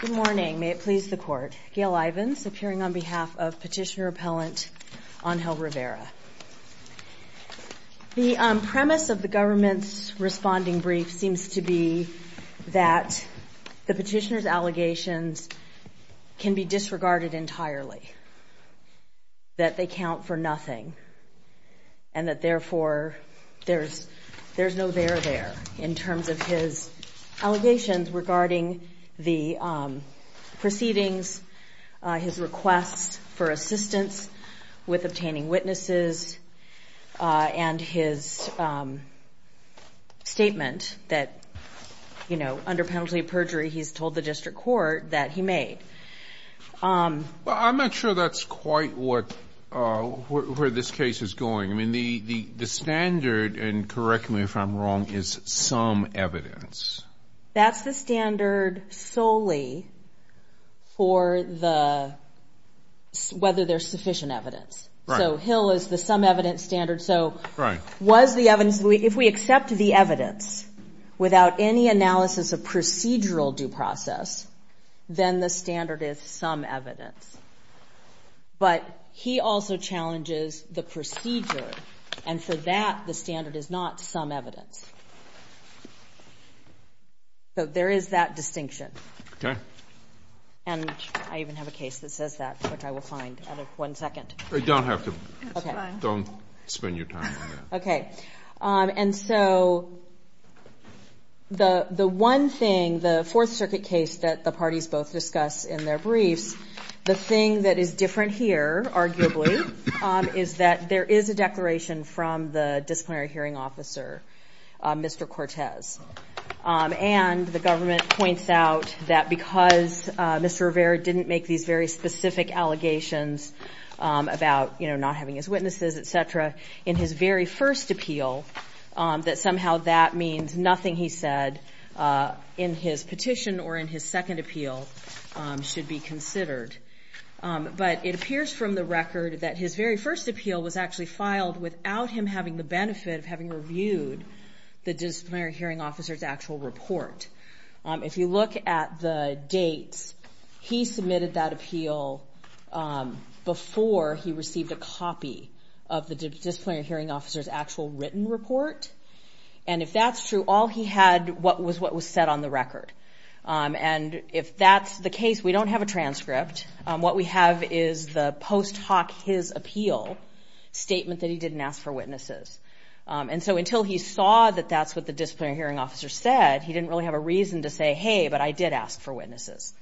Good morning. May it please the Court. Gail Ivins, appearing on behalf of petitioner-appellant Angel Rivera. The premise of the government's responding brief seems to be that the petitioner's allegations can be disregarded entirely, that they count for nothing, and that therefore there's no there there in terms of his allegations regarding the proceedings, his request for assistance with obtaining witnesses, and his statement that under penalty of perjury he's told the district court that he made. Well, I'm not sure that's quite where this case is going. I mean, the standard, and correct me if I'm wrong, is some evidence. That's the standard solely for whether there's sufficient evidence. So Hill is the some evidence standard. So was the evidence, if we accept the evidence without any analysis of procedural due process, then the standard is some evidence. But he also challenges the procedure, and for that the standard is not some evidence. So there is that distinction. And I even have a case that says that, which I will find at one second. Don't have to. Don't spend your time on that. And so the one thing, the Fourth Circuit case that the parties both discussed in their briefs, the thing that is different here, arguably, is that there is a declaration from the disciplinary hearing officer, Mr. Cortez. And the government points out that because Mr. Rivera didn't make these very specific allegations about, you know, not having his witnesses, et cetera, in his very first appeal, that somehow that means nothing he said in his petition or in his second appeal should be considered. But it appears from the record that his very first appeal was actually filed without him having the benefit of having reviewed the disciplinary hearing officer's actual report. If you look at the dates, he submitted that appeal before he received a copy of the disciplinary hearing officer's actual written report. And if that's true, all he had was what was said on the record. And if that's the case, we don't have a transcript. What we have is the post hoc his appeal statement that he didn't ask for witnesses. And so until he saw that that's what the disciplinary hearing officer said, he didn't really have a reason to say, hey, but I did ask for witnesses.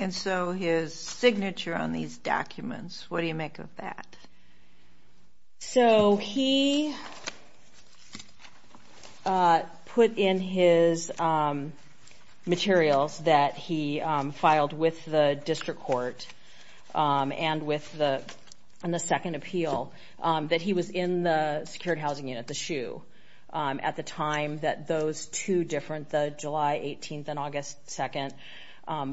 And so his signature on these documents, what do you make of that? So he put in his materials that he filed with the district court and with the second appeal that he was in the secured housing unit, the SHU, at the time that those two different, the July 18th and August 2nd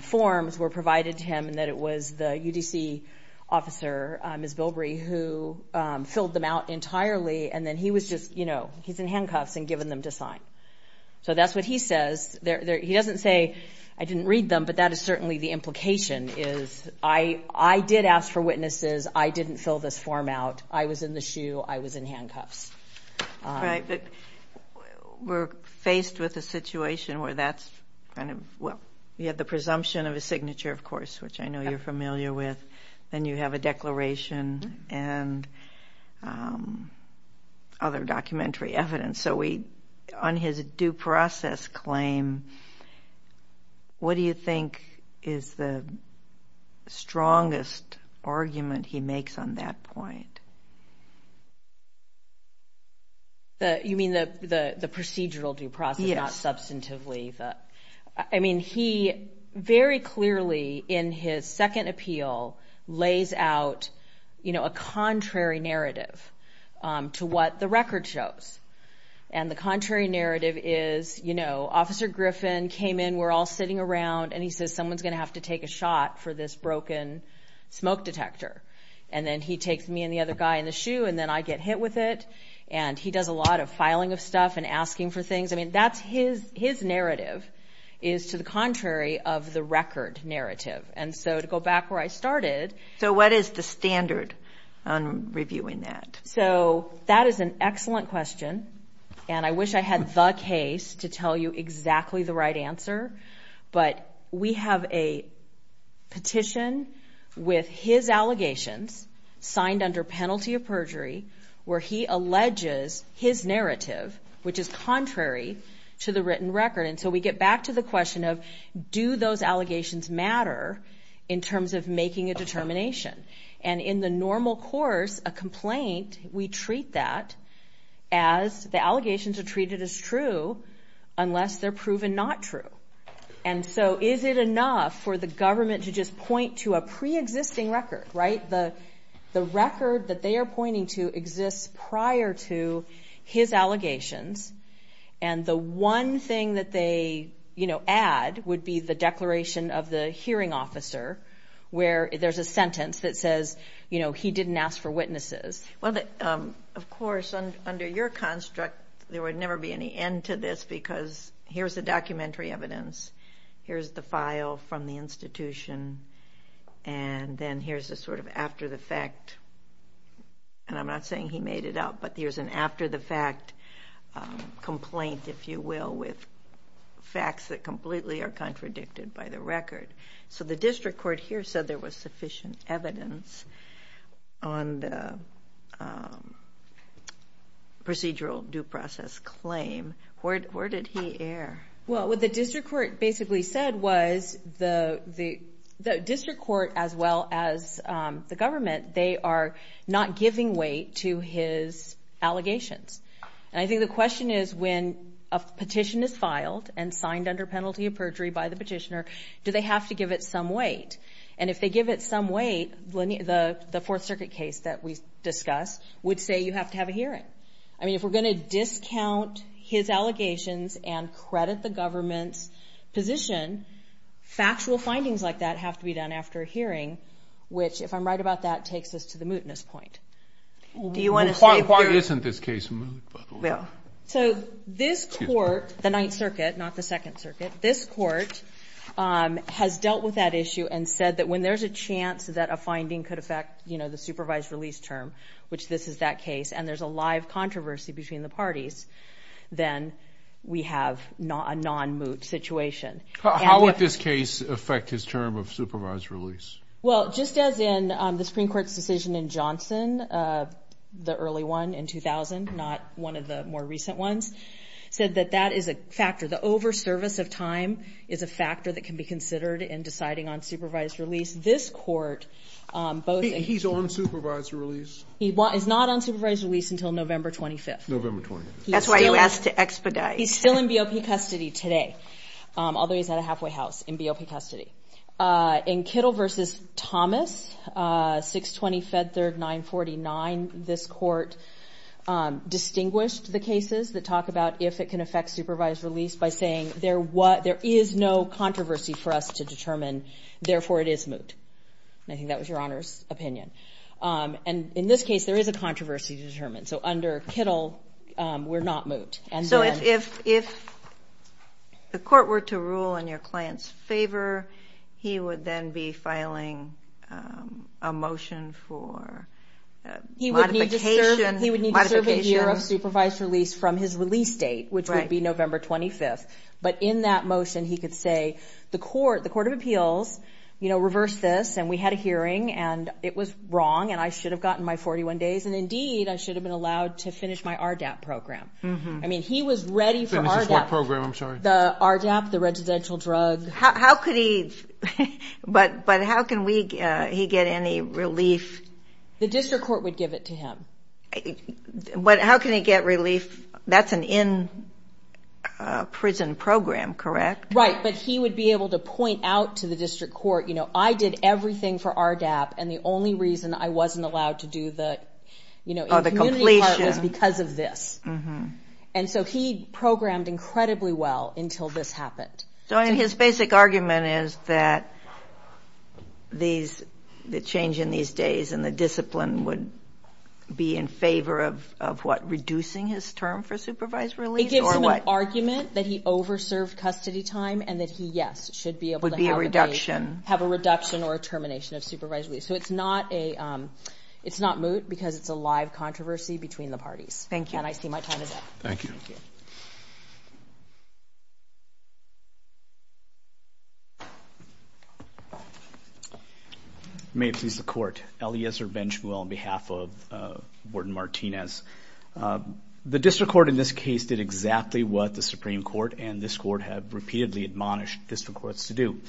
forms were provided to him and that it was the UDC officer, Ms. Bilbrey, who filled them out entirely. And then he was just, you know, he's in handcuffs and given them to sign. So that's what he says. He doesn't say, I didn't read them, but that is certainly the truth. I was in the SHU. I was in handcuffs. Right. But we're faced with a situation where that's kind of, well, you have the presumption of a signature, of course, which I know you're familiar with. Then you have a declaration and other documentary evidence. So we, on his due process claim, what do you think is the strongest argument he makes on that point? You mean the procedural due process, not substantively? Yes. I mean, he very clearly in his second appeal lays out, you know, a contrary narrative to what the record shows. And the contrary narrative is, you know, Officer Griffin came in, we're all sitting around, and he says, someone's going to have to take a shot for this broken smoke detector. And then he takes me and the other guy in the SHU, and then I get hit with it. And he does a lot of filing of stuff and asking for things. I mean, that's his narrative is to the contrary of the record narrative. And so to go back where I started. So what is the standard on reviewing that? So that is an excellent question. And I wish I had the case to tell you exactly the right answer. But we have a petition with his allegations signed under penalty of perjury where he alleges his narrative, which is contrary to the written record. And so we get back to the question of do those allegations matter in terms of making a determination? And in the normal course a complaint, we treat that as the allegations are treated as true unless they're proven not true. And so is it enough for the government to just point to a preexisting record, right? The record that they are pointing to exists prior to his allegations. And the one thing that they, you know, add would be the declaration of the hearing officer where there's a sentence that says, you know, he didn't ask for witnesses. Well, of course, under your construct, there would never be any end to this because here's the documentary evidence. Here's the file from the institution. And then here's a sort of after the fact. And I'm not saying he made it up, but here's an after the fact complaint, if you will, with facts that completely are contradicted by the record. So the district court here said there was sufficient evidence on the procedural due process claim. Where did he err? Well, what the district court basically said was the district court as well as the government, they are not giving weight to his allegations. And I think the question is when a petition is filed and signed under penalty of perjury by the petitioner, do they have to give it some weight? And if they give it some weight, the Fourth Circuit case that we discuss would say you have to have a hearing. I mean, if we're going to discount his allegations and credit the government's position, factual findings like that have to be done after a hearing, which if I'm right about that, takes us to the mootness point. Do you want to say why isn't this case moot, by the way? So this court, the Ninth Circuit, not the Second Circuit, this court has dealt with that issue and said that when there's a chance that a finding could affect, you know, the case and there's a live controversy between the parties, then we have a non-moot situation. How would this case affect his term of supervised release? Well, just as in the Supreme Court's decision in Johnson, the early one in 2000, not one of the more recent ones, said that that is a factor. The over-service of time is a factor that can be considered in deciding on supervised release. This court both... He's on supervised release? He is not on supervised release until November 25th. November 25th. That's why you asked to expedite. He's still in BOP custody today, although he's at a halfway house in BOP custody. In Kittle v. Thomas, 620 Fed Third 949, this court distinguished the cases that talk about if it can affect supervised release by saying there is no controversy for us to determine, therefore it is moot. I think that was Your Honor's opinion. And in this case, there is a controversy to determine. So under Kittle, we're not moot. So if the court were to rule in your client's favor, he would then be filing a motion for modification? He would need to serve a year of supervised release from his release date, which would be November 25th. But in that motion, he could say the Court of Appeals reversed this and we had a hearing and it was wrong and I should have gotten my 41 days and indeed I should have been allowed to finish my RDAP program. I mean, he was ready for RDAP. Finish his what program? I'm sorry. The RDAP, the residential drug. How could he... But how can he get any relief? The district court would give it to him. But how can he get relief? That's an in-prison program, correct? Right. But he would be able to point out to the district court, you know, I did everything for RDAP and the only reason I wasn't allowed to do the, you know, the community part was because of this. And so he programmed incredibly well until this happened. So his basic argument is that the change in these days and the discipline would be in favor of, of what, reducing his term for supervised release or what? It gives him an argument that he over-served custody time and that he, yes, should be able to have a... Would be a reduction. ...have a reduction or a termination of supervised release. So it's not a, it's not moot because it's a live controversy between the parties. Thank you. And I see my time is up. Thank you. Thank you. May it please the court. Eliezer Benchmuel on behalf of Warden Martinez. The district court in this case did exactly what the Supreme Court and this court have repeatedly admonished district courts to do.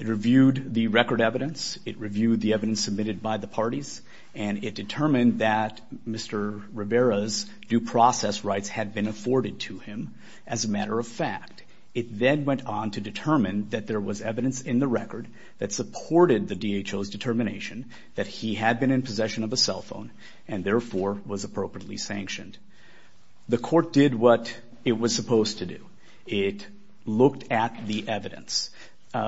It reviewed the record evidence. It reviewed the evidence submitted by the parties. And it determined that Mr. Rivera's due process rights had been afforded to him as a matter of fact. It then went on to determine that there was evidence in the record that supported the DHO's determination that he had been in possession of a cell phone and therefore was appropriately sanctioned. The court did what it was supposed to do. It looked at the evidence.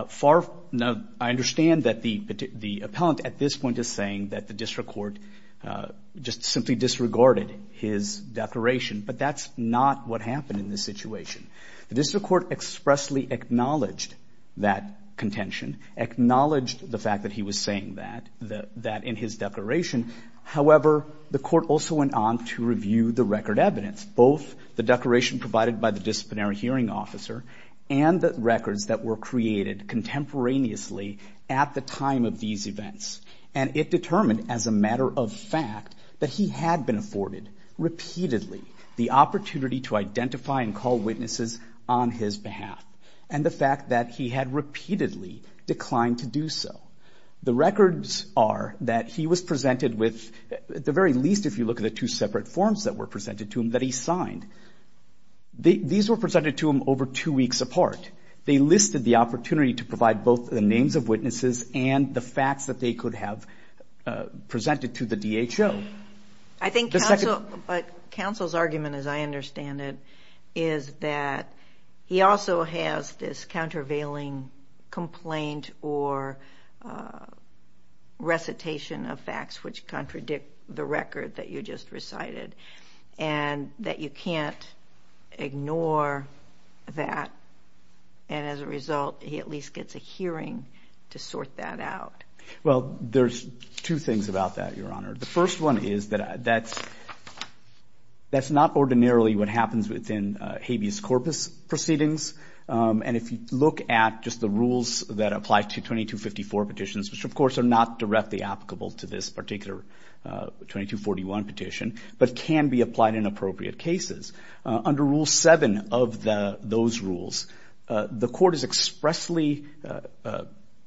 Far... Now, I understand that the appellant at this point is saying that the district court just simply disregarded his declaration, but that's not what happened in this situation. The district court expressly acknowledged that contention, acknowledged the fact that he was saying that, that in his declaration. However, the court also went on to review the record evidence, both the declaration provided by the disciplinary hearing officer and the records that were created contemporaneously at the time of these events. And it determined as a matter of fact that he had been afforded repeatedly the opportunity to identify and call witnesses on his behalf. And the fact that he had repeatedly declined to do so. The records are that he was presented with, at the very least if you look at the two separate forms that were presented to him that he signed. These were presented to him over two weeks apart. They listed the opportunity to provide both the names of witnesses and the facts that they could have presented to the DHO. I think counsel's argument, as I understand it, is that he also has this countervailing complaint or recitation of facts which contradict the record that you just recited. And that you can't ignore that. And as a result, he at least gets a hearing to sort that out. Well there's two things about that, your honor. The first one is that that's not ordinarily what happens within habeas corpus proceedings. And if you look at just the rules that apply to 2254 petitions, which of course are not directly applicable to this particular 2241 petition, but can be applied in appropriate cases. Under rule 7 of those rules, the court is expressly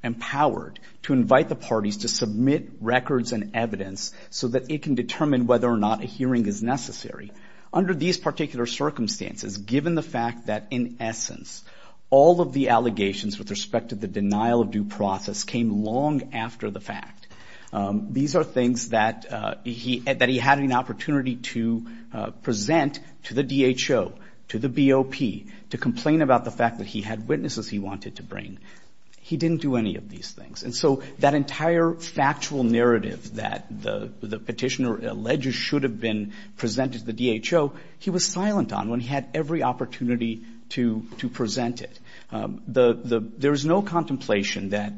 empowered to invite the parties to submit records and evidence so that it can determine whether or not a hearing is necessary. Under these particular circumstances, given the fact that in essence, all of the allegations with respect to the denial of due process came long after the fact. These are things that he had an opportunity to present to the DHO, to the BOP, to complain about the fact that he had witnesses he wanted to bring. He didn't do any of these things. And so that entire factual narrative that the petitioner alleged should have been presented to the DHO, he was silent on when he had every opportunity to present it. There is no contemplation that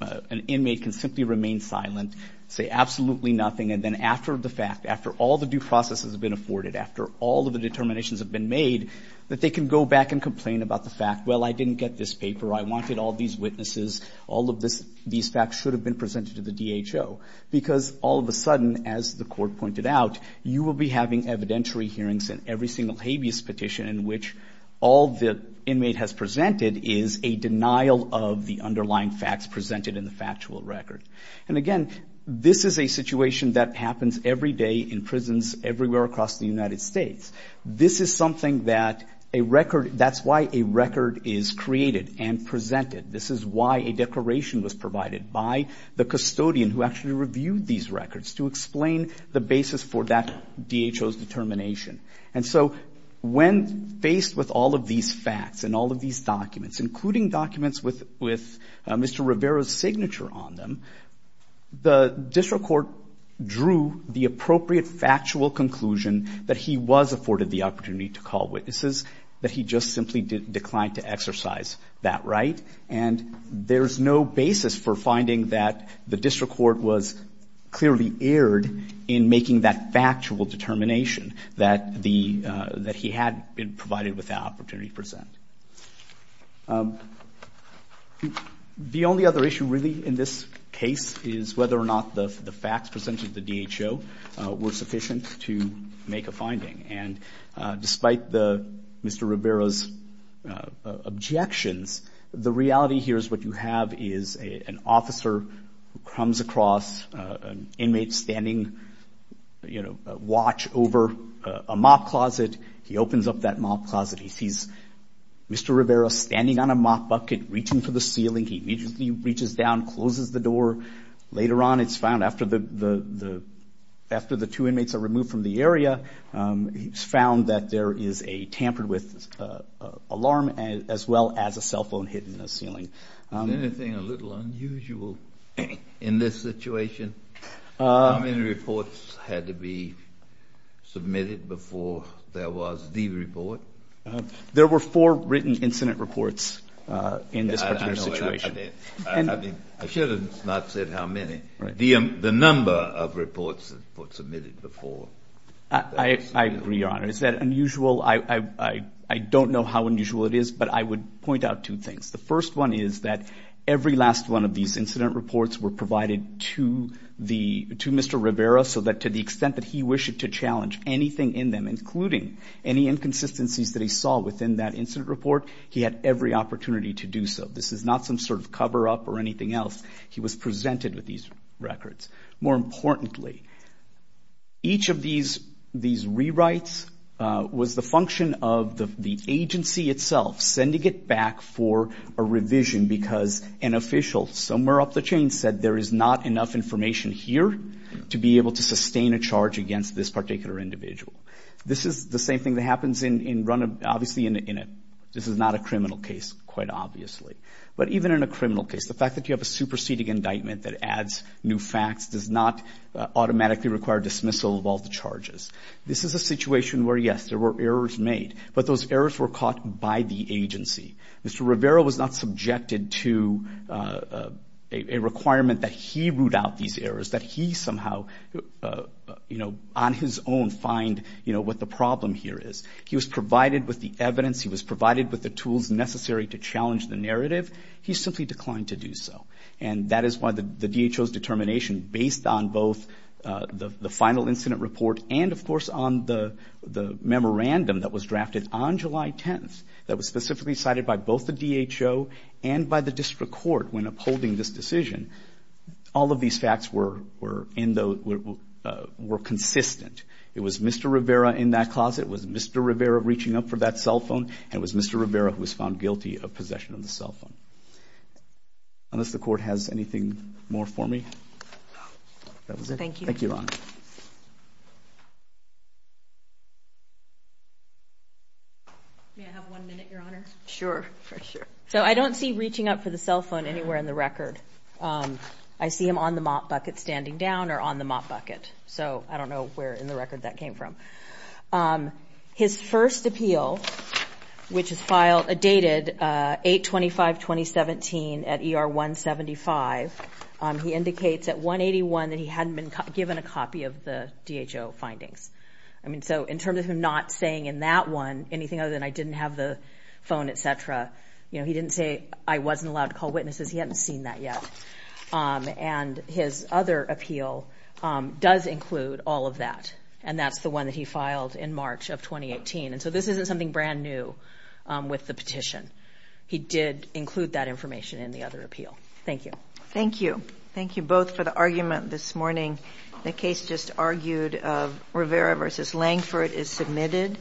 an inmate can simply remain silent, say absolutely nothing, and then after the fact, after all the due process has been afforded, after all of the determinations have been made, that they can go back and complain about the fact, well, I didn't get this paper, I wanted all these witnesses, all of these facts should have been presented to the DHO. Because all of a sudden, as the court pointed out, you will be having evidentiary hearings in every single habeas petition in which all the inmate has presented is a denial of the underlying facts presented in the factual record. And again, this is a situation that happens every day in prisons everywhere across the United States. This is something that a record, that's why a record is created and presented. This is why a declaration was provided by the custodian who actually reviewed these records to explain the basis for that DHO's determination. And so when faced with all of these facts and all of these documents, including documents with Mr. Rivera's signature on them, the district court drew the appropriate factual conclusion that he was afforded the opportunity to call witnesses, that he just simply declined to exercise that right. And there's no basis for finding that the district court was clearly erred in making that factual determination that the, that he had been provided with that opportunity to present. The only other issue really in this case is whether or not the facts presented to DHO were sufficient to make a finding. And despite the, Mr. Rivera's objections, the reality here is what you have is an officer who comes across an inmate standing, you know, watch over a mop closet, he opens up that mop closet, he sees Mr. Rivera standing on a mop bucket reaching for the ceiling, he immediately reaches down, closes the door. Later on it's found after the, after the two inmates are removed from the area, it's found that there is a tampered with alarm as well as a cell phone hidden in the ceiling. Is there anything a little unusual in this situation? How many reports had to be submitted before there was the report? There were four written incident reports in this particular situation. I know. I mean, I should have not said how many. The number of reports that were submitted before. I agree, Your Honor. Is that unusual? I don't know how unusual it is, but I would point out two things. The first one is that every last one of these incident reports were provided to the, to Mr. Rivera so that to the extent that he wished to challenge anything in them, including any inconsistencies that he saw within that incident report, he had every opportunity to do so. This is not some sort of cover up or anything else. He was presented with these records. More importantly, each of these, these rewrites was the function of the agency itself sending it back for a revision because an official somewhere up the chain said there is not enough information here to be able to sustain a charge against this particular individual. This is the same thing that happens in, in, obviously in a, this is not a criminal case quite obviously, but even in a criminal case, the fact that you have a superseding indictment that adds new facts does not automatically require dismissal of all the charges. This is a situation where yes, there were errors made, but those errors were caught by the agency. Mr. Rivera was not subjected to a requirement that he root out these errors, that he somehow, you know, on his own find, you know, what the problem here is. He was provided with the evidence. He was provided with the tools necessary to challenge the narrative. He simply declined to do so. And that is why the, the DHO's determination based on both the final incident report and of course on the, the memorandum that was specifically cited by both the DHO and by the district court when upholding this decision, all of these facts were, were in the, were consistent. It was Mr. Rivera in that closet, it was Mr. Rivera reaching up for that cell phone, and it was Mr. Rivera who was found guilty of possession of the cell phone. Unless the court has anything more for me? That was it. Thank you. Thank you, Your Honor. May I have one minute, Your Honor? Sure, sure. So I don't see reaching up for the cell phone anywhere in the record. I see him on the mop bucket standing down or on the mop bucket, so I don't know where in the record that came from. His first appeal, which is filed, dated 8-25-2017 at ER 175, he indicates at 181 that he hadn't been given a copy of the DHO findings. I mean, so in terms of him not saying in that one anything other than I didn't have the phone, etc., you know, he didn't say I wasn't allowed to call witnesses, he hadn't seen that yet. And his other appeal does include all of that, and that's the one that he filed in March of 2018. And so this isn't something brand new with the petition. He did include that information in the other appeal. Thank you. Thank you. Thank you both for the argument this morning. The case just argued of Rivera v. Langford is submitted.